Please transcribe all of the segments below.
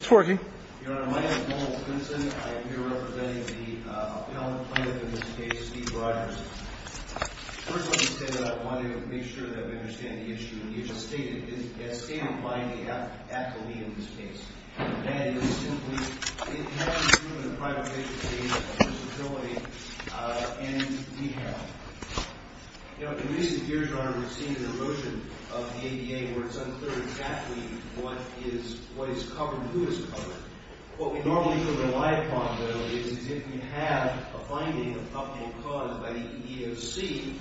Your Honor, my name is Nolan Plinson. I am here representing the appellant plaintiff in this case, Steve Rogers. First, let me say that I wanted to make sure that we understand the issue that you just stated. It is stated by the athlete in this case. And it is simply, it has to do with a private patient's age, disability, and knee health. You know, in recent years, Your Honor, we've seen an erosion of the ADA where it's unclear exactly what is covered and who is covered. What we normally can rely upon, though, is if we have a finding of uphold cause by the EEOC,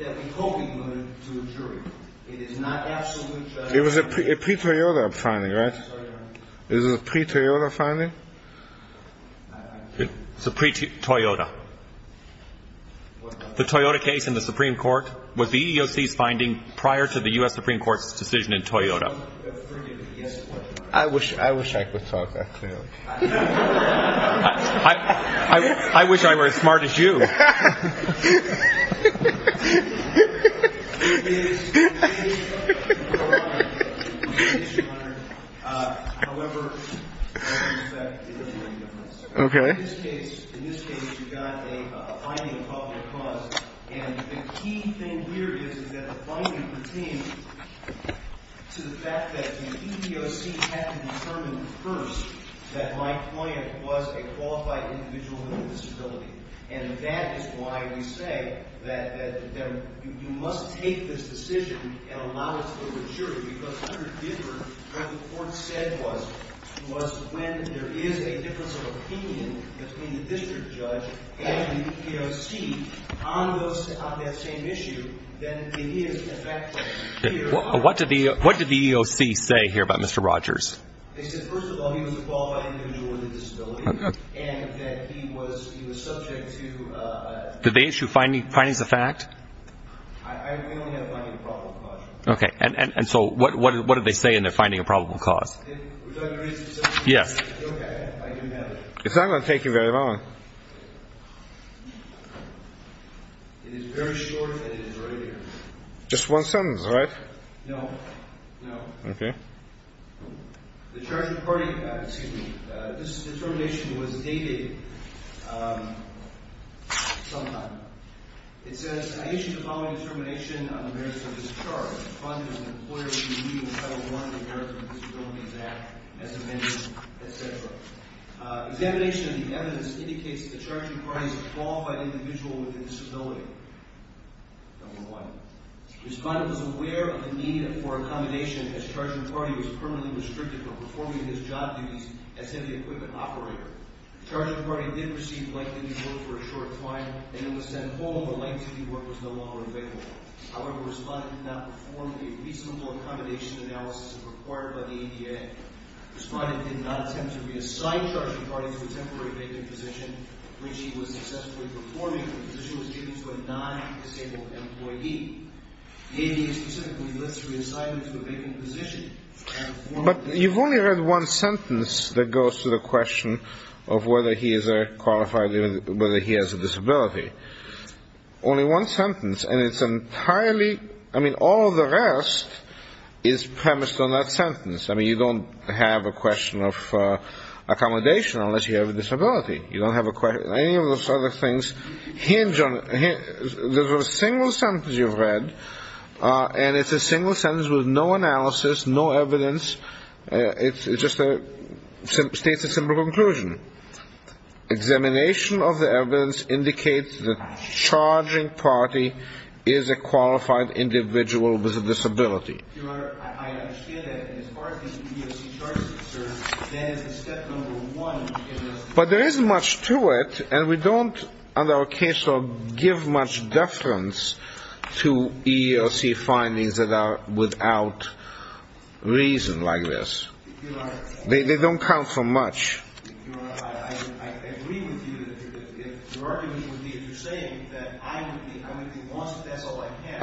that we hope we can put it to a jury. It is not absolute judgment. It was a pre-Toyota finding, right? Sorry, Your Honor. It was a pre-Toyota finding? It's a pre-Toyota. The Toyota case in the Supreme Court was the EEOC's finding prior to the U.S. Supreme Court's decision in Toyota. I wish I could talk that clearly. I wish I were as smart as you. Your Honor, however, in this case, you've got a finding of uphold cause. And the key thing here is that the finding pertains to the fact that the EEOC had to determine first that my client was a qualified individual with a disability. And that is why we say that you must take this decision and allow it to the jury. Because under Dipper, what the court said was when there is a difference of opinion between the district judge and the EEOC on that same issue, then it is, in fact, clear. What did the EEOC say here about Mr. Rogers? They said, first of all, he was a qualified individual with a disability. Okay. And that he was subject to a... Did they issue findings of fact? They only had a finding of probable cause. Okay. And so what did they say in their finding of probable cause? It was under reason. Yes. Okay. I didn't have it. It's not going to take you very long. It is very short, and it is right here. Just one sentence, right? No. No. Okay. The charge of the party... Excuse me. This determination was dated sometime. It says, I issue the following determination on the merits of this charge. Respondent is an employee of the EEOC, under the Americans with Disabilities Act, as amended, etc. Examination of the evidence indicates that the charge of the party is a qualified individual with a disability. Number one. Respondent was aware of the need for accommodation as charge of the party was permanently restricted from performing his job duties as heavy equipment operator. Charge of the party did receive light duty work for a short time, and it was then home where light duty work was no longer available. However, respondent did not perform a reasonable accommodation analysis required by the ADA. Respondent did not attempt to reassign charge of the party to a temporary vacant position, which he was successfully performing because he was due to a non-disabled employee. The ADA specifically lists reassignment to a vacant position. But you've only read one sentence that goes to the question of whether he is a qualified individual, whether he has a disability. Only one sentence, and it's entirely... I mean, all the rest is premised on that sentence. I mean, you don't have a question of accommodation unless you have a disability. You don't have a question... There's a single sentence you've read, and it's a single sentence with no analysis, no evidence. It just states a simple conclusion. Examination of the evidence indicates the charging party is a qualified individual with a disability. But there isn't much to it, and we don't, in our case, give much deference to EEOC findings that are without reason like this. They don't count for much. I agree with you. Your argument would be if you're saying that I would be lost if that's all I had.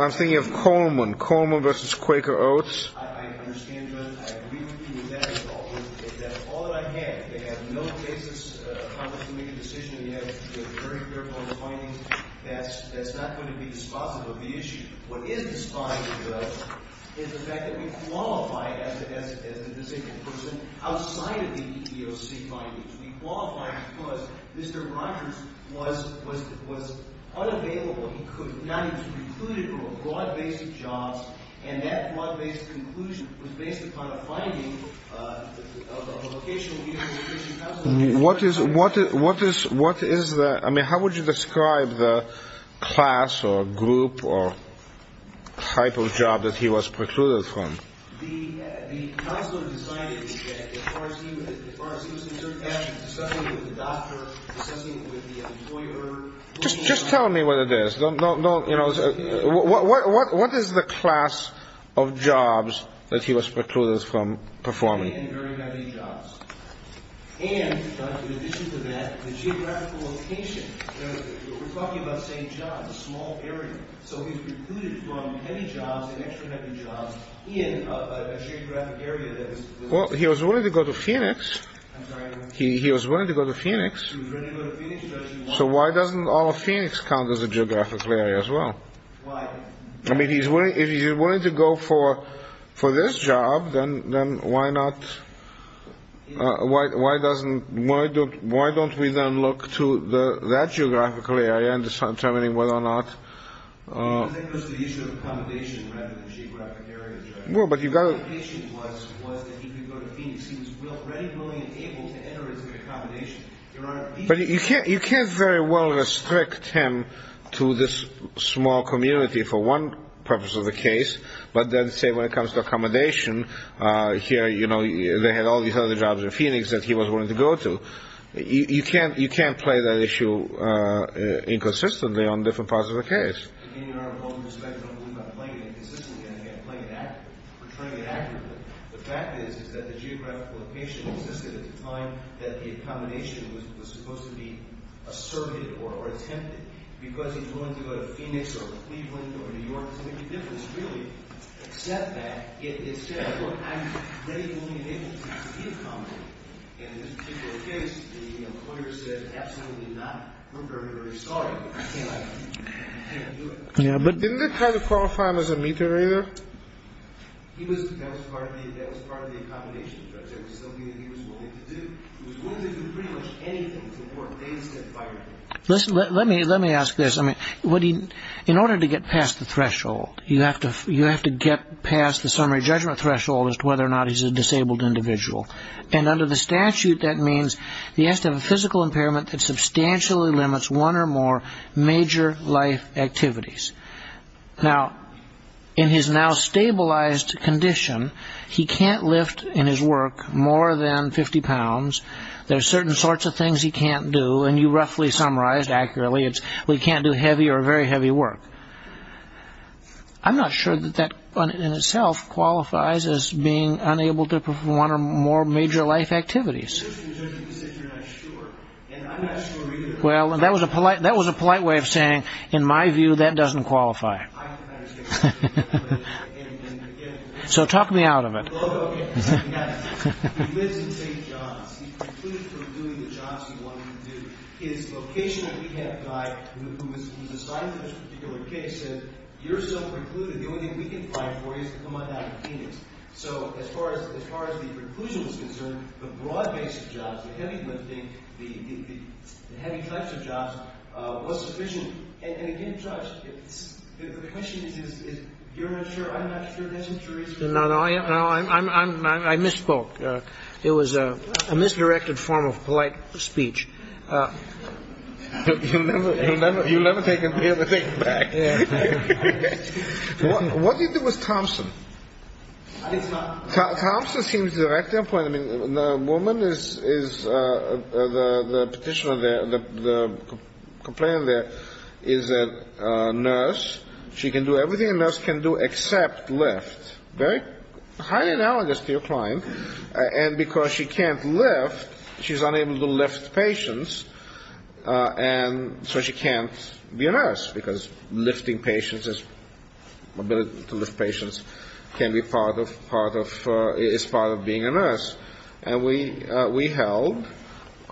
I'm thinking of Coleman, Coleman v. Quaker Oats. I understand, Judge. I agree with you with that at all. If that's all that I had, they have no basis, Congress, to make a decision. You have very careful findings. That's not going to be dispositive of the issue. What is dispositive of the issue is the fact that we qualify as a disabled person outside of the EEOC findings. We qualify because Mr. Rogers was unavailable. Now, he was recluded from a broad-based job, and that broad-based conclusion was based upon a finding of a vocational legal education counselor. What is that? I mean, how would you describe the class or group or type of job that he was precluded from? The counselor decided that as far as he was concerned, that was something with the doctor, something with the employer. Just tell me what it is. What is the class of jobs that he was precluded from performing? Well, he was willing to go to Phoenix. He was willing to go to Phoenix. So why doesn't all of Phoenix count as a geographical area as well? Why? I mean, if he's willing to go for this job, then why not all of Phoenix? Why don't we then look to that geographical area in determining whether or not... Because that goes to the issue of accommodation rather than geographic areas. Well, but you've got to... His application was that he could go to Phoenix. He was ready, willing, and able to enter his accommodation. But you can't very well restrict him to this small community for one purpose of the case, but then, say, when it comes to accommodation, here, you know, they had all these other jobs in Phoenix that he was willing to go to. You can't play that issue inconsistently on different parts of the case. Again, Your Honor, with all due respect, I don't believe I'm playing it inconsistently. I'm playing it accurately, portraying it accurately. The fact is that the geographical location existed at a time that the accommodation was supposed to be asserted or attempted. Because he's willing to go to Phoenix or Cleveland or New York doesn't make a difference, really. Except that it says, look, I'm ready, willing, and able to be accommodated. And in this particular case, the employer said, absolutely not. We're very, very sorry, but I can't do it. Yeah, but didn't they try to qualify him as a meter, either? He was, that was part of the accommodation. That was something that he was willing to do. He was willing to do pretty much anything. It's important. They instead fired him. Let me ask this. In order to get past the threshold, you have to get past the summary judgment threshold as to whether or not he's a disabled individual. And under the statute, that means he has to have a physical impairment that substantially limits one or more major life activities. Now, in his now stabilized condition, he can't lift in his work more than 50 pounds. There are certain sorts of things he can't do, and you roughly summarized accurately. We can't do heavy or very heavy work. I'm not sure that that in itself qualifies as being unable to perform one or more major life activities. Well, that was a polite way of saying, in my view, that doesn't qualify. So talk me out of it. He lives in St. John's. He's precluded from doing the jobs he wanted to do. His vocational rehab guy, who was assigned to this particular case, said, you're still precluded. The only thing we can find for you is to come on down to Phoenix. So as far as the preclusion was concerned, the broad base of jobs, the heavy lifting, the heavy types of jobs was sufficient. And, again, Judge, the question is, you're unsure. I'm not sure that's true. No, no, I misspoke. It was a misdirected form of polite speech. You'll never hear the thing back. What did you do with Thompson? Thompson seems to direct their point. I mean, the woman is the petitioner there. The complainant there is a nurse. She can do everything a nurse can do except lift. Very highly analogous to your client. And because she can't lift, she's unable to lift patients. And so she can't be a nurse, because lifting patients, her ability to lift patients, can be part of, is part of being a nurse. And we held,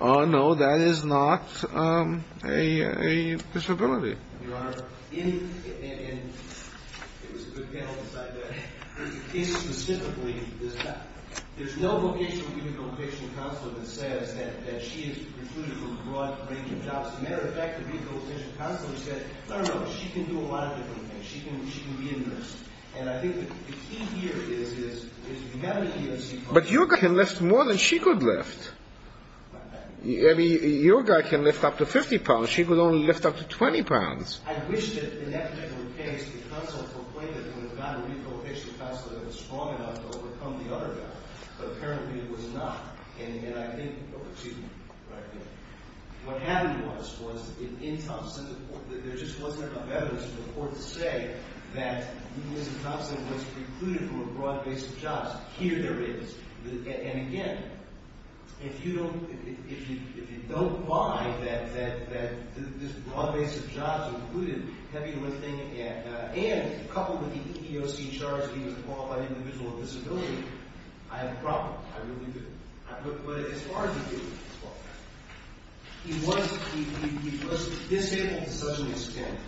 oh, no, that is not a disability. Your Honor, in, and it was a good panel to cite that, in specifically, there's no vocational vehicle petition counselor that says that she is precluded from a broad range of jobs. As a matter of fact, the vehicle petition counselor said, no, no, no, she can do a lot of different things. She can be a nurse. And I think the key here is, is if you have an EMC client. But your guy can lift more than she could lift. I mean, your guy can lift up to 50 pounds. But she could only lift up to 20 pounds. I wish that, in that particular case, the counsel complainant would have gotten a vehicle petition counselor that was strong enough to overcome the other guy. But apparently it was not. And I think, excuse me, what happened was, was in Thompson, there just wasn't enough evidence in the court to say that Ms. Thompson was precluded from a broad range of jobs. Here there is. And again, if you don't buy that this broad base of jobs included heavy lifting and coupled with the EEOC charge he was called by an individual with a disability, I have a problem. I really do. But as far as he did, he was disabled to such an extent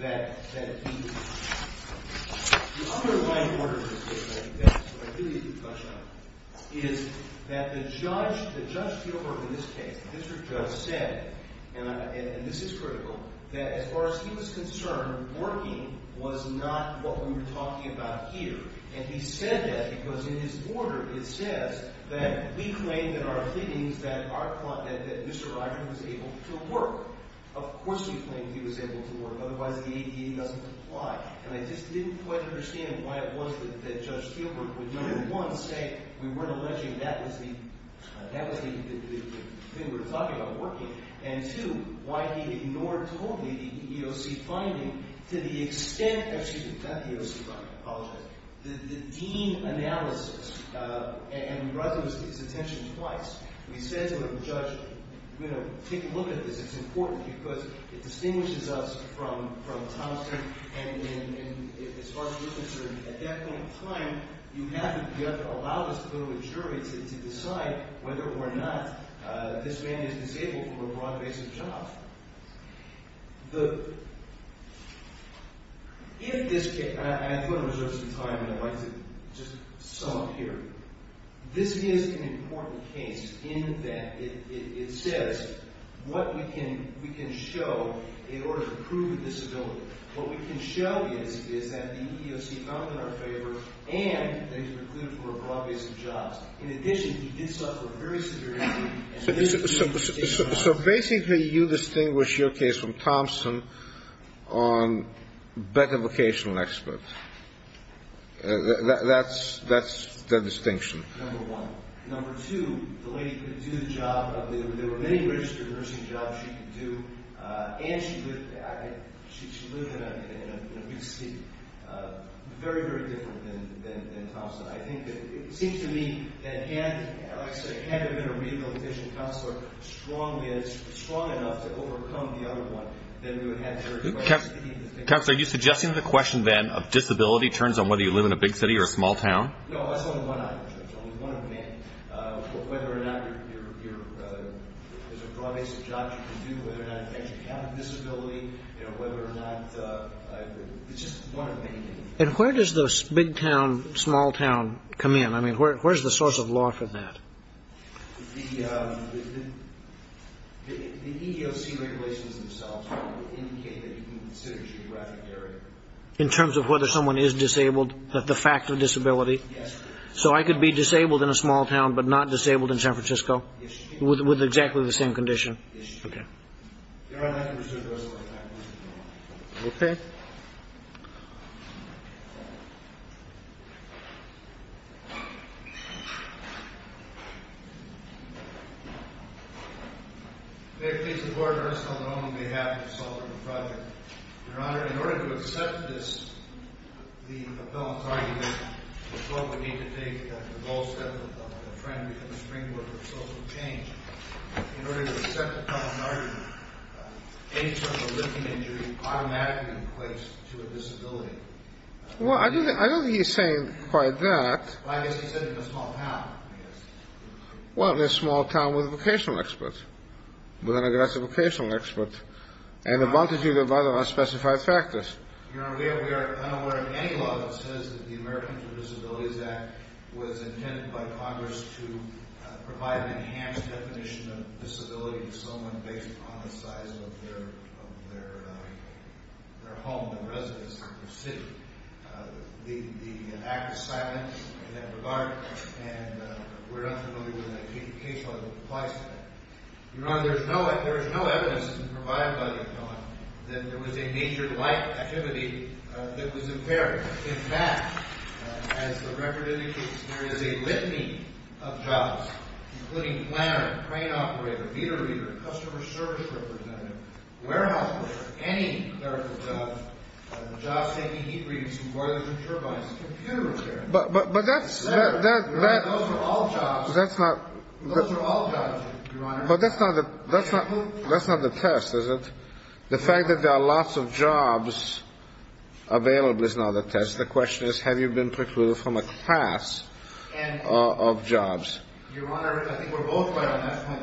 that he was not. The underlying order in this case, I think that's what I really need to touch on, is that the judge, Judge Spielberg in this case, district judge, said, and this is critical, that as far as he was concerned, working was not what we were talking about here. And he said that because in his order it says that we claim that our findings that Mr. Ryder was able to work. Of course we claim he was able to work. Otherwise the ADA doesn't apply. And I just didn't quite understand why it was that Judge Spielberg would, one, say we weren't alleging that was the thing we were talking about working, and two, why he ignored totally the EEOC finding to the extent that, excuse me, not the EEOC finding. I apologize. The dean analysis, and we brought this to his attention twice. We said to him, Judge, you know, take a look at this. It's important because it distinguishes us from Tom Stern. And as far as you're concerned, at that point in time, you have to allow us to go to a jury to decide whether or not this man is disabled from a broad base of jobs. If this case, and I just want to reserve some time and I'd like to just sum up here. This is an important case in that it says what we can show in order to prove a disability. What we can show is that the EEOC found in our favor and that he was recruited for a broad base of jobs. In addition, he did suffer a very severe injury. So basically, you distinguish your case from Thompson on better vocational experts. That's the distinction. Number one. Number two, the lady could do the job. There were many registered nursing jobs she could do, and she lived in a big city. Very, very different than Thompson. I think that it seems to me that had, like I said, had there been a regal official counselor strong enough to overcome the other one, then we would have jury. Counselor, are you suggesting the question then of disability turns on whether you live in a big city or a small town? No, that's only one option. It's only one of many. Whether or not there's a broad base of jobs you can do, whether or not you have a disability, you know, whether or not, it's just one of many. And where does the big town, small town come in? I mean, where's the source of law for that? The EEOC regulations themselves indicate that you can consider a geographic area. In terms of whether someone is disabled, the fact of disability? Yes. So I could be disabled in a small town but not disabled in San Francisco? Yes, you can. With exactly the same condition? Yes, you can. Okay. Your Honor, I can pursue the rest of my time. Okay. May it please the Court, on the sole and only behalf of the consultant and project. Your Honor, in order to accept this, the appellant's argument, the court would need to take the whole step of a friend becoming a springboard for social change. In order to accept the appellant's argument, any sort of a living injury automatically equates to a disability. Well, I don't think he's saying quite that. Well, I guess he said in a small town, I guess. Well, in a small town with a vocational expert, with an aggressive vocational expert. And a multitude of other unspecified factors. Your Honor, we are unaware of any law that says that the Americans with Disabilities Act was intended by Congress to provide an enhanced definition of disability to someone based upon the size of their home, their residence, their city. The act is silent in that regard, and we're not familiar with a case law that applies to that. Your Honor, there is no evidence to provide by the appellant that there was a major life activity that was impaired. In fact, as the record indicates, there is a litany of jobs, including planner, crane operator, meter reader, customer service representative, warehouse worker, any type of job. Jobs taking heat readings from boilers and turbines, computer repair. Those are all jobs. Those are all jobs, Your Honor. But that's not the test, is it? The fact that there are lots of jobs available is not the test. The question is, have you been precluded from a class of jobs? Your Honor, I think we're both right on that point.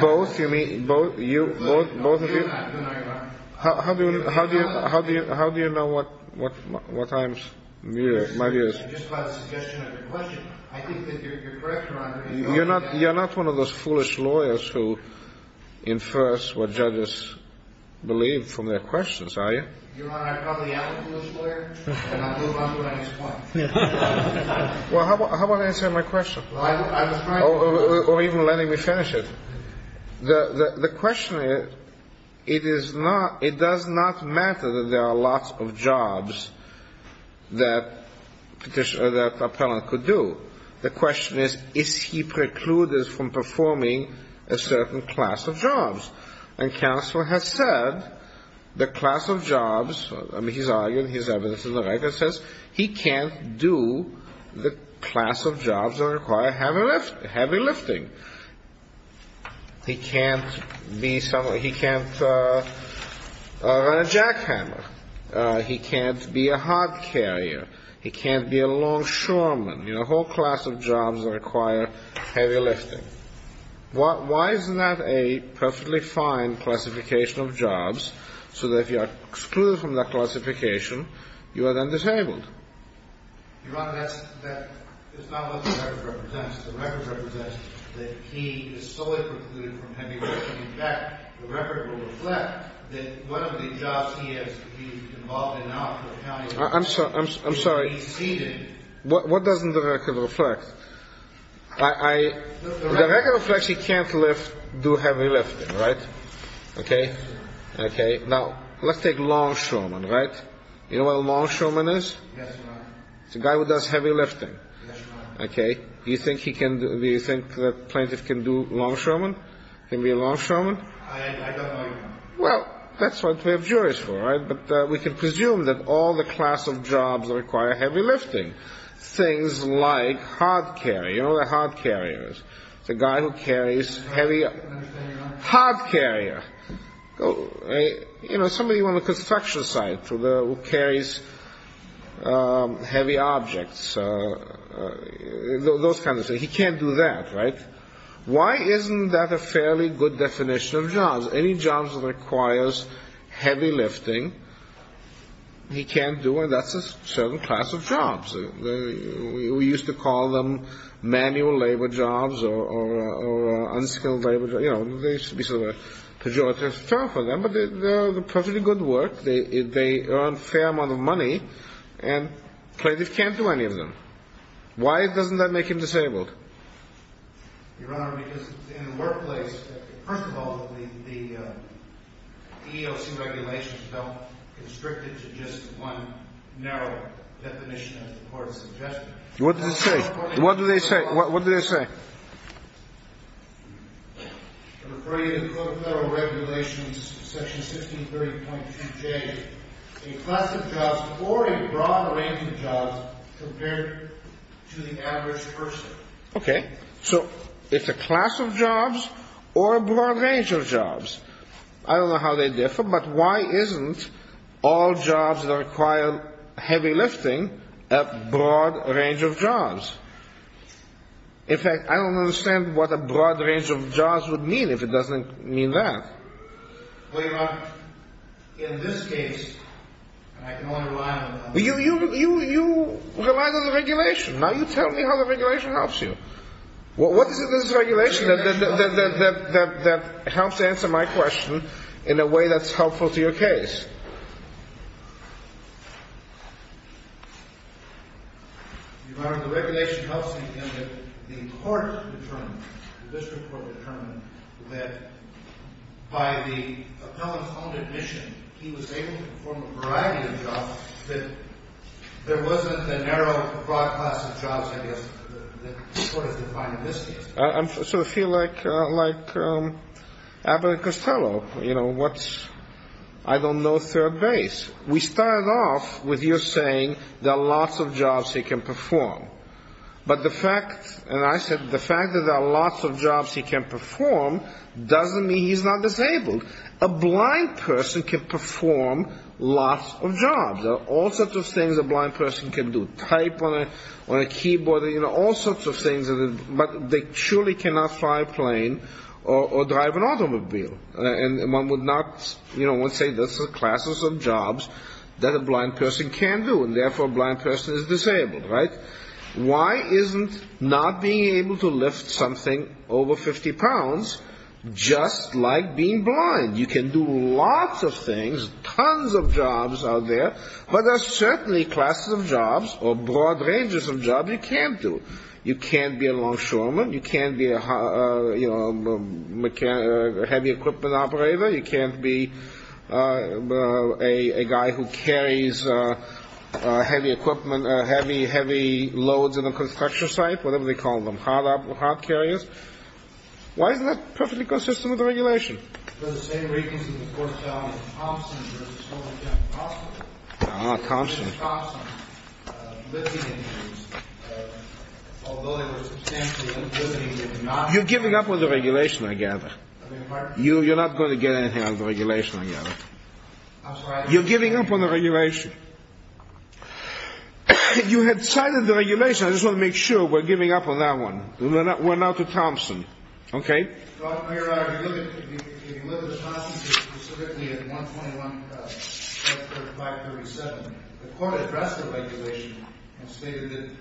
Both? You mean both of you? No, Your Honor. How do you know what time's my view is? Just by the suggestion of your question. I think that you're correct, Your Honor. You're not one of those foolish lawyers who infers what judges believe from their questions, are you? Your Honor, I probably am a foolish lawyer, and I'll move on to the next point. Well, how about answering my question? Or even letting me finish it. The question is, it does not matter that there are lots of jobs that an appellant could do. The question is, is he precluded from performing a certain class of jobs? And counsel has said, the class of jobs, I mean, he's arguing, his evidence in the record says, he can't do the class of jobs that require heavy lifting. He can't run a jackhammer. He can't be a hard carrier. He can't be a longshoreman. You know, a whole class of jobs that require heavy lifting. Why isn't that a perfectly fine classification of jobs, so that if you are excluded from that classification, you are then disabled? Your Honor, that's not what the record represents. The record represents that he is solely precluded from heavy lifting. In fact, the record will reflect that one of the jobs he has to be involved in out in the county... I'm sorry, I'm sorry. What doesn't the record reflect? The record reflects he can't lift, do heavy lifting, right? Okay? Now, let's take longshoreman, right? You know what a longshoreman is? Yes, Your Honor. It's a guy who does heavy lifting. Yes, Your Honor. Okay? Do you think the plaintiff can do longshoreman? Can he be a longshoreman? I don't know, Your Honor. Well, that's what we have juries for, right? But we can presume that all the class of jobs require heavy lifting. Things like hard carrier. You know what a hard carrier is? It's a guy who carries heavy... Hard carrier. You know, somebody on the construction site who carries heavy objects. Those kinds of things. He can't do that, right? Why isn't that a fairly good definition of jobs? Any job that requires heavy lifting, he can't do, and that's a certain class of jobs. We used to call them manual labor jobs or unskilled labor jobs. You know, they used to be sort of a pejorative term for them, but they're perfectly good work. They earn a fair amount of money, and the plaintiff can't do any of them. Why doesn't that make him disabled? Your Honor, because in the workplace, first of all, the EEOC regulations don't constrict it to just one narrow definition of the court's suggestion. What do they say? What do they say? I refer you to the Code of Federal Regulations, Section 1630.2J. A class of jobs or a broad range of jobs compared to the average person. Okay. So it's a class of jobs or a broad range of jobs. I don't know how they differ, but why isn't all jobs that require heavy lifting a broad range of jobs? In fact, I don't understand what a broad range of jobs would mean if it doesn't mean that. Well, Your Honor, in this case, I can only rely on the... You rely on the regulation. Now you tell me how the regulation helps you. What is it in this regulation that helps answer my question in a way that's helpful to your case? Your Honor, the regulation helps me in that the court determined, the district court determined, that by the appellant's own admission, he was able to perform a variety of jobs, that there wasn't a narrow, broad class of jobs, I guess, that the court has defined in this case. I sort of feel like Abbott and Costello, you know, what's, I don't know, third base. We started off with you saying there are lots of jobs he can perform. But the fact, and I said the fact that there are lots of jobs he can perform doesn't mean he's not disabled. A blind person can perform lots of jobs. There are all sorts of things a blind person can do. Type on a keyboard, you know, all sorts of things, but they surely cannot fly a plane or drive an automobile. And one would not, you know, one would say this is a class of jobs that a blind person can do, and therefore a blind person is disabled, right? Why isn't not being able to lift something over 50 pounds just like being blind? You can do lots of things, tons of jobs out there, but there are certainly classes of jobs or broad ranges of jobs you can't do. You can't be a longshoreman, you can't be a heavy equipment operator, you can't be a guy who carries heavy equipment, heavy loads in a construction site, whatever they call them, hard carriers. Why isn't that perfectly consistent with the regulation? The same reasons, of course, Tomson versus Tomson. Ah, Tomson. Tomson, lifting injuries, although they were substantial in lifting injuries. You're giving up on the regulation, I gather. You're not going to get anything out of the regulation, I gather. You're giving up on the regulation. You had cited the regulation. I just want to make sure we're giving up on that one. We're now to Tomson. Okay? Your Honor, we live with Tomson specifically at 121.537. The court addressed the regulation and stated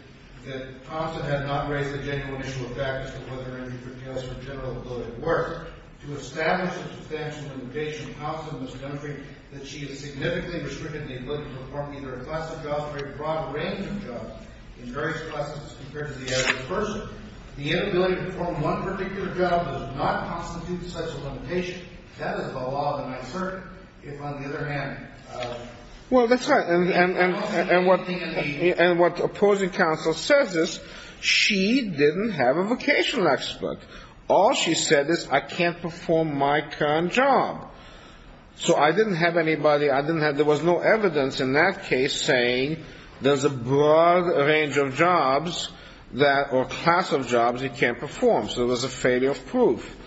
that Tomson had not raised a genuine issue of fact as to whether an injury entails her general ability to work. To establish the substantial limitation of Tomson in this country, that she is significantly restricted in the ability to perform either a class of jobs or a broad range of jobs in various classes compared to the average person. The inability to perform one particular job does not constitute such a limitation. That is the law, and I'm certain, if on the other hand... Well, that's right. And what opposing counsel says is she didn't have a vocational expert. All she said is, I can't perform my current job. So I didn't have anybody. There was no evidence in that case saying there's a broad range of jobs or a class of jobs he can't perform. So there was a failure of proof.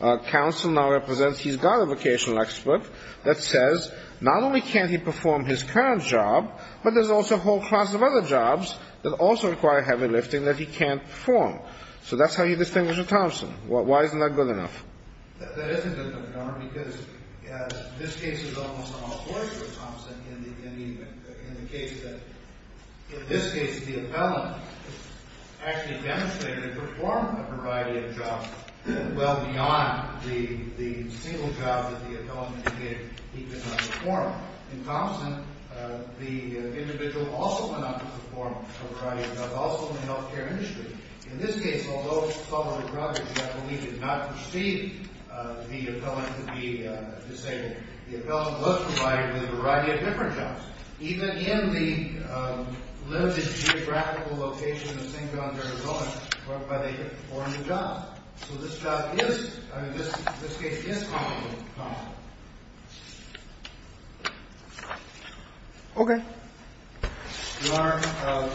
Counsel now represents he's got a vocational expert that says, not only can't he perform his current job, but there's also a whole class of other jobs that also require heavy lifting that he can't perform. So that's how you distinguish a Tomson. Why isn't that good enough? That isn't good enough, Your Honor, because this case is almost on all fours with Tomson in the case that, in this case, the appellant actually demonstrated to perform a variety of jobs well beyond the single job that the appellant indicated he could not perform. In Tomson, the individual also went on to perform a variety of jobs, also in the health care industry. In this case, although Sullivan Brothers, I believe, did not perceive the appellant to be disabled, the appellant was provided with a variety of different jobs, even in the limited geographical location of St. John's, Arizona, whereby they could perform the job. So this job is, I mean, this case is comparable to Tomson. Okay. Your Honor,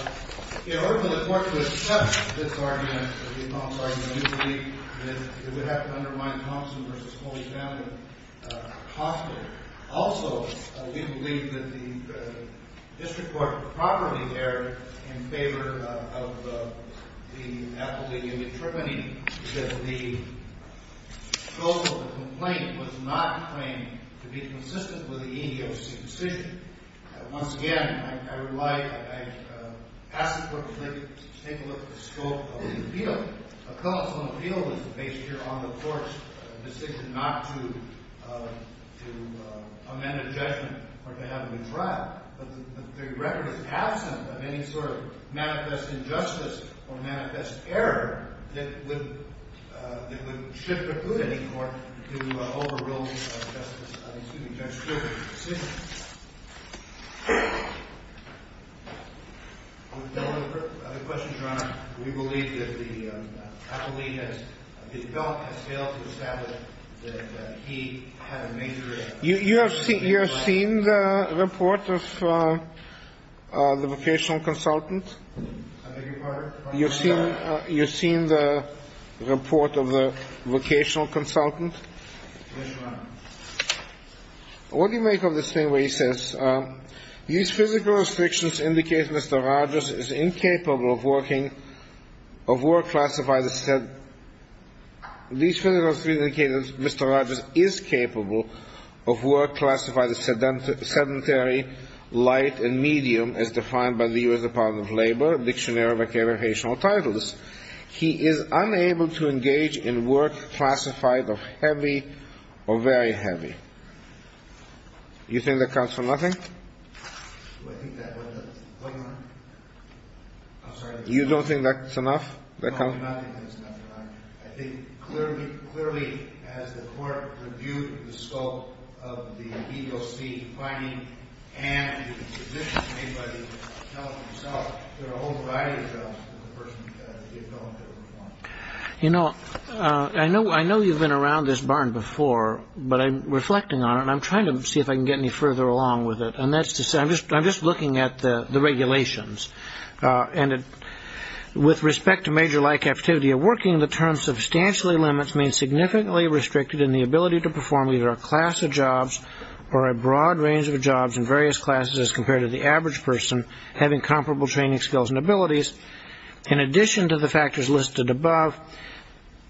in order for the Court to accept this argument, we believe that it would have to undermine Tomson v. Holy Family hostage. Also, we believe that the district court properly erred in favor of the appellee in the tribunee, because the scope of the complaint was not claimed to be consistent with the EEOC decision. Once again, I would like to ask the Court to take a look at the scope of the appeal. A consolidated appeal is based here on the Court's decision not to amend a judgment or to have it retried. But the record is absent of any sort of manifest injustice or manifest error that would shift or put any Court to overruling of Justice — excuse me, Judge Stewart's decision. I have a question, Your Honor. We believe that the appellee has — the appellant has failed to establish that he had a major — You have seen the report of the vocational consultant? I beg your pardon? You have seen the report of the vocational consultant? Yes, Your Honor. What do you make of this thing where he says, These physical restrictions indicate that Mr. Rogers is incapable of working — of work classified as — These physical restrictions indicate that Mr. Rogers is capable of work classified as sedentary, light, and medium, as defined by the U.S. Department of Labor, Dictionary of Vocational Titles. He is unable to engage in work classified of heavy or very heavy. You think that counts for nothing? Do I think that counts for nothing? I'm sorry. You don't think that's enough? No, I do not think that's enough, Your Honor. I think clearly, as the Court reviewed the scope of the EEOC finding, and the position made by the appellant himself, there are a whole variety of jobs for the person who has the appellant to perform. You know, I know you've been around this barn before, but I'm reflecting on it, and I'm trying to see if I can get any further along with it. And that's to say — I'm just looking at the regulations. And with respect to major-like activity of working, the term substantially limits means significantly restricted in the ability to perform either a class of jobs or a broad range of jobs in various classes as compared to the average person having comparable training skills and abilities. In addition to the factors listed above,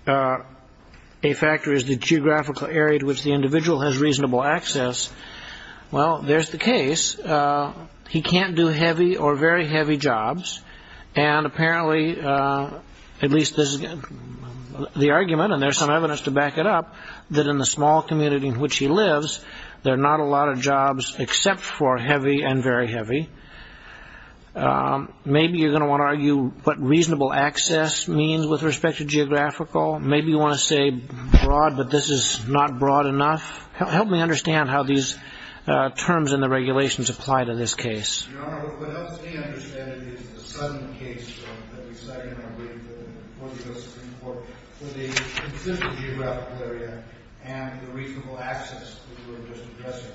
a factor is the geographical area to which the individual has reasonable access. Well, there's the case. He can't do heavy or very heavy jobs. And apparently, at least this is the argument, and there's some evidence to back it up, that in the small community in which he lives, there are not a lot of jobs except for heavy and very heavy. Maybe you're going to want to argue what reasonable access means with respect to geographical. Maybe you want to say broad, but this is not broad enough. Help me understand how these terms in the regulations apply to this case. Your Honor, what helps me understand it is the sudden case that we cited in our brief before the U.S. Supreme Court with the consistent geographical area and the reasonable access that we were just addressing.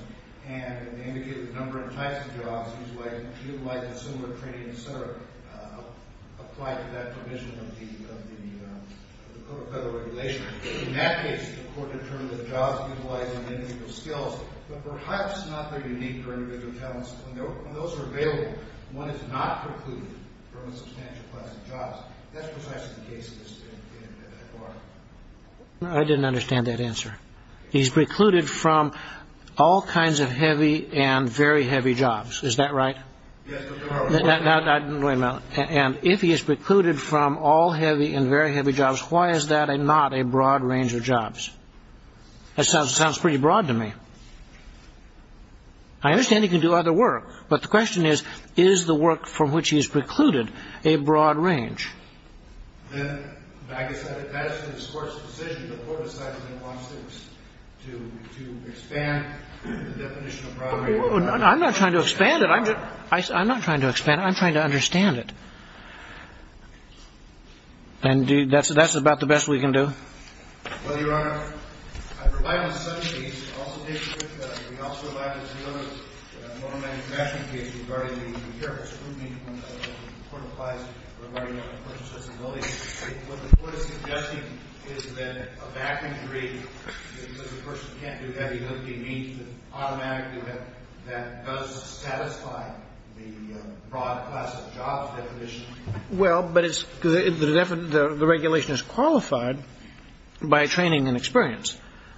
And they indicated the number and types of jobs, he was likely to utilize a similar training, et cetera, applied to that provision of the federal regulation. In that case, the court determined that jobs utilizing the individual's skills, but perhaps not their unique or individual talents. When those are available, one is not precluded from a substantial class of jobs. That's precisely the case in that bar. I didn't understand that answer. He's precluded from all kinds of heavy and very heavy jobs. Is that right? Yes, Your Honor. And if he is precluded from all heavy and very heavy jobs, why is that not a broad range of jobs? That sounds pretty broad to me. I understand he can do other work, but the question is, is the work from which he is precluded a broad range? I'm not trying to expand it. I'm trying to understand it. And that's about the best we can do? Well, Your Honor, I rely on such a case. It also takes into account that we also rely on a similar motor manufacturing case regarding the care of a scrutiny when the court applies regarding a person's disability. What the court is suggesting is that a back injury, because a person can't do heavy lifting, automatically that does satisfy the broad class of jobs that condition. Well, but the regulation is qualified by training and experience.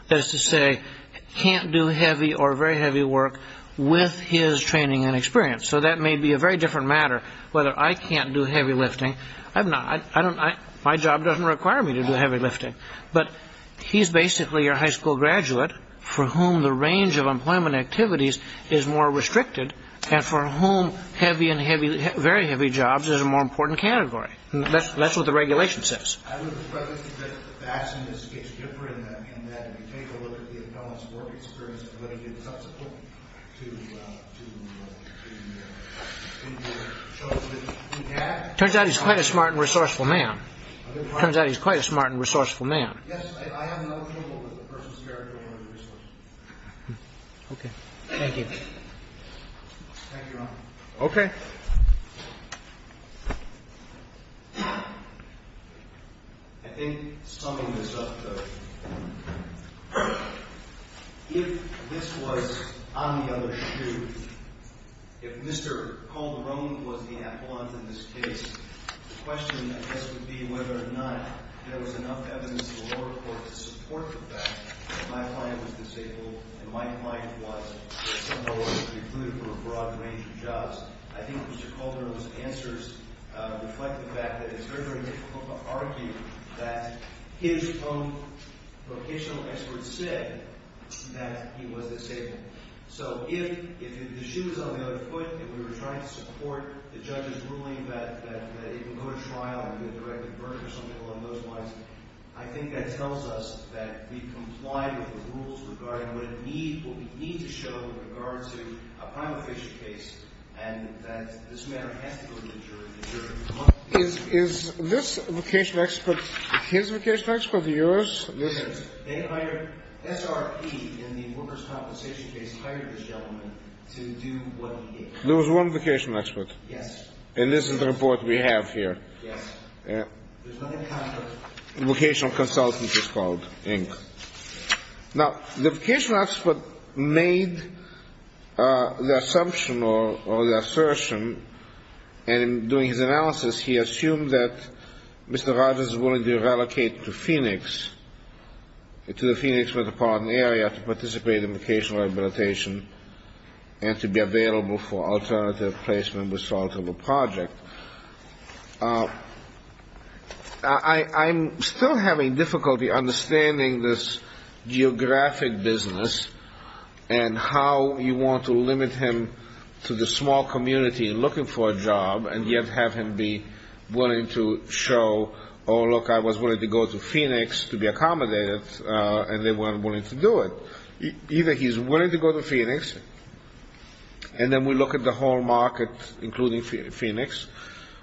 That is to say, can't do heavy or very heavy work with his training and experience. So that may be a very different matter whether I can't do heavy lifting. My job doesn't require me to do heavy lifting. But he's basically your high school graduate for whom the range of employment activities is more restricted and for whom heavy and very heavy jobs is a more important category. That's what the regulation says. It turns out he's quite a smart and resourceful man. It turns out he's quite a smart and resourceful man. Okay. Thank you. Thank you, Your Honor. Okay. I think summing this up, though, if this was on the other shoe, if Mr. Calderon was the affluent in this case, the question, I guess, would be whether or not there was enough evidence in the lower court to support the fact that my client was disabled and my client was, that some of the lawyers were excluded from a broad range of jobs. I think Mr. Calderon's answers reflect the fact that it's very, very difficult to argue that his own vocational experts said that he was disabled. So if the shoe was on the other foot, if we were trying to support the judge's ruling that it would go to trial and be a directed burden or something along those lines, I think that tells us that we complied with the rules regarding what it needs, what we need to show with regard to a prime official case and that this matter has to go to the jury. The jury would come up with the evidence. Is this vocational expert, his vocational expert or yours? Theirs. They hired SRP in the workers' compensation case, they hired this gentleman to do what he did. There was one vocational expert. Yes. And this is the report we have here. Yes. There's another counselor. Vocational consultant, he's called, Inc. Now, the vocational expert made the assumption or the assertion, and in doing his analysis he assumed that Mr. Rogers was willing to relocate to Phoenix, to the Phoenix metropolitan area to participate in vocational rehabilitation and to be available for alternative placement with a project. I'm still having difficulty understanding this geographic business and how you want to limit him to the small community looking for a job and yet have him be willing to show, oh, look, I was willing to go to Phoenix to be accommodated, and they weren't willing to do it. Either he's willing to go to Phoenix and then we look at the whole market including Phoenix.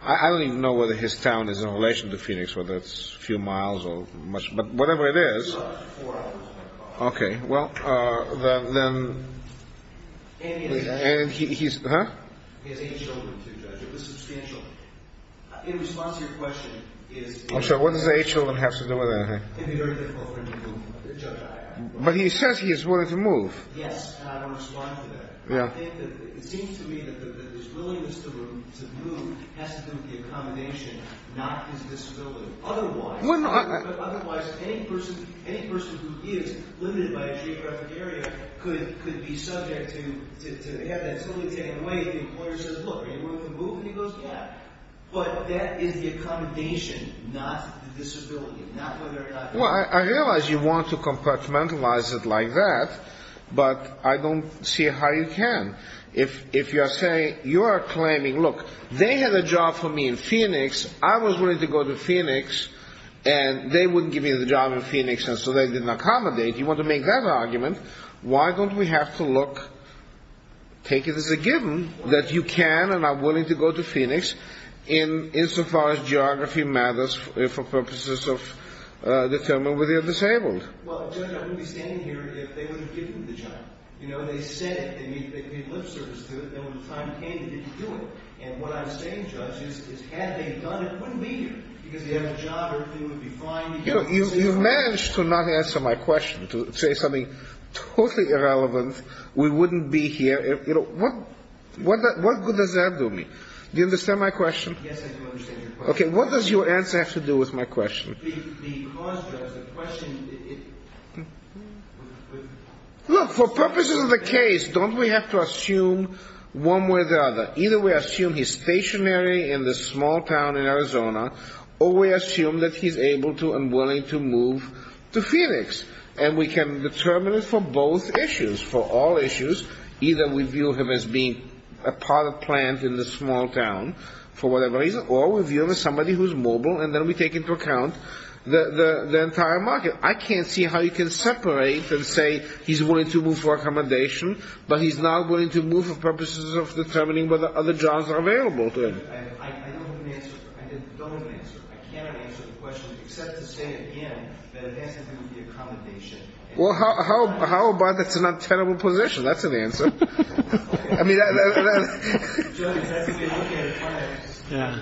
I don't even know whether his town is in relation to Phoenix, whether it's a few miles or much, but whatever it is. Four hours. Okay. Well, then he's, huh? He has eight children, too, Judge. It was substantial. In response to your question is he willing to move? I'm sorry, what does the eight children have to do with that? It would be very difficult for him to move, Judge. But he says he is willing to move. Yes, and I don't respond to that. I think that it seems to me that his willingness to move has to do with the accommodation, not his disability. Otherwise, any person who is limited by a geographic area could be subject to have that totally taken away. The employer says, look, are you willing to move? And he goes, yeah. But that is the accommodation, not the disability, not whether or not you have it. Well, I realize you want to compartmentalize it like that, but I don't see how you can. If you are saying, you are claiming, look, they had a job for me in Phoenix, I was willing to go to Phoenix, and they wouldn't give me the job in Phoenix, and so they didn't accommodate, you want to make that argument, why don't we have to look, take it as a given, that you can and are willing to go to Phoenix insofar as geography matters for purposes of determining whether you are disabled. Well, Judge, I wouldn't be standing here if they would have given me the job. You know, they said they would be at lip service to it, and when the time came, they didn't do it. And what I'm saying, Judge, is had they done it, it wouldn't be here, because they have a job, everything would be fine. You know, you've managed to not answer my question, to say something totally irrelevant. We wouldn't be here. You know, what good does that do me? Do you understand my question? Yes, I do understand your question. Okay, what does your answer have to do with my question? The cause, Judge, the question... Look, for purposes of the case, don't we have to assume one way or the other? Either we assume he's stationary in this small town in Arizona, or we assume that he's able to and willing to move to Phoenix, and we can determine it for both issues, for all issues. Either we view him as being a part of a plant in this small town, for whatever reason, or we view him as somebody who's mobile, and then we take into account the entire market. I can't see how you can separate and say he's willing to move for accommodation, but he's not willing to move for purposes of determining whether other jobs are available to him. I don't have an answer. I cannot answer the question, except to say again that it has to do with the accommodation. Well, how about that's not a terrible position? That's an answer. I mean, that's... Judge, that's if you look at a client...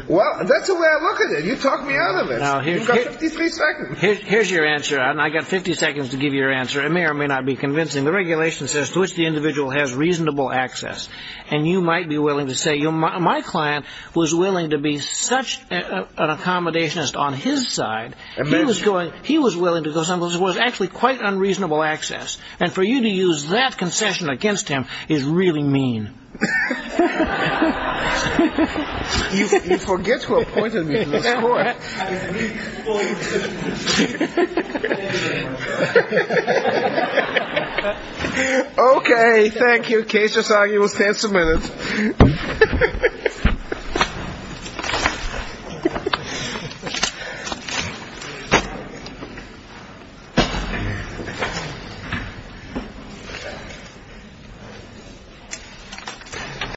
Well, that's the way I look at it. You talk me out of it. You've got 53 seconds. Here's your answer, and I've got 50 seconds to give you your answer. It may or may not be convincing. The regulation says to which the individual has reasonable access, and you might be willing to say, my client was willing to be such an accommodationist on his side, he was willing to go somewhere where there was actually quite unreasonable access, and for you to use that concession against him is really mean. He forgets who appointed me to this court. Okay, thank you. Case is argued. We'll stand some minutes. Thank you.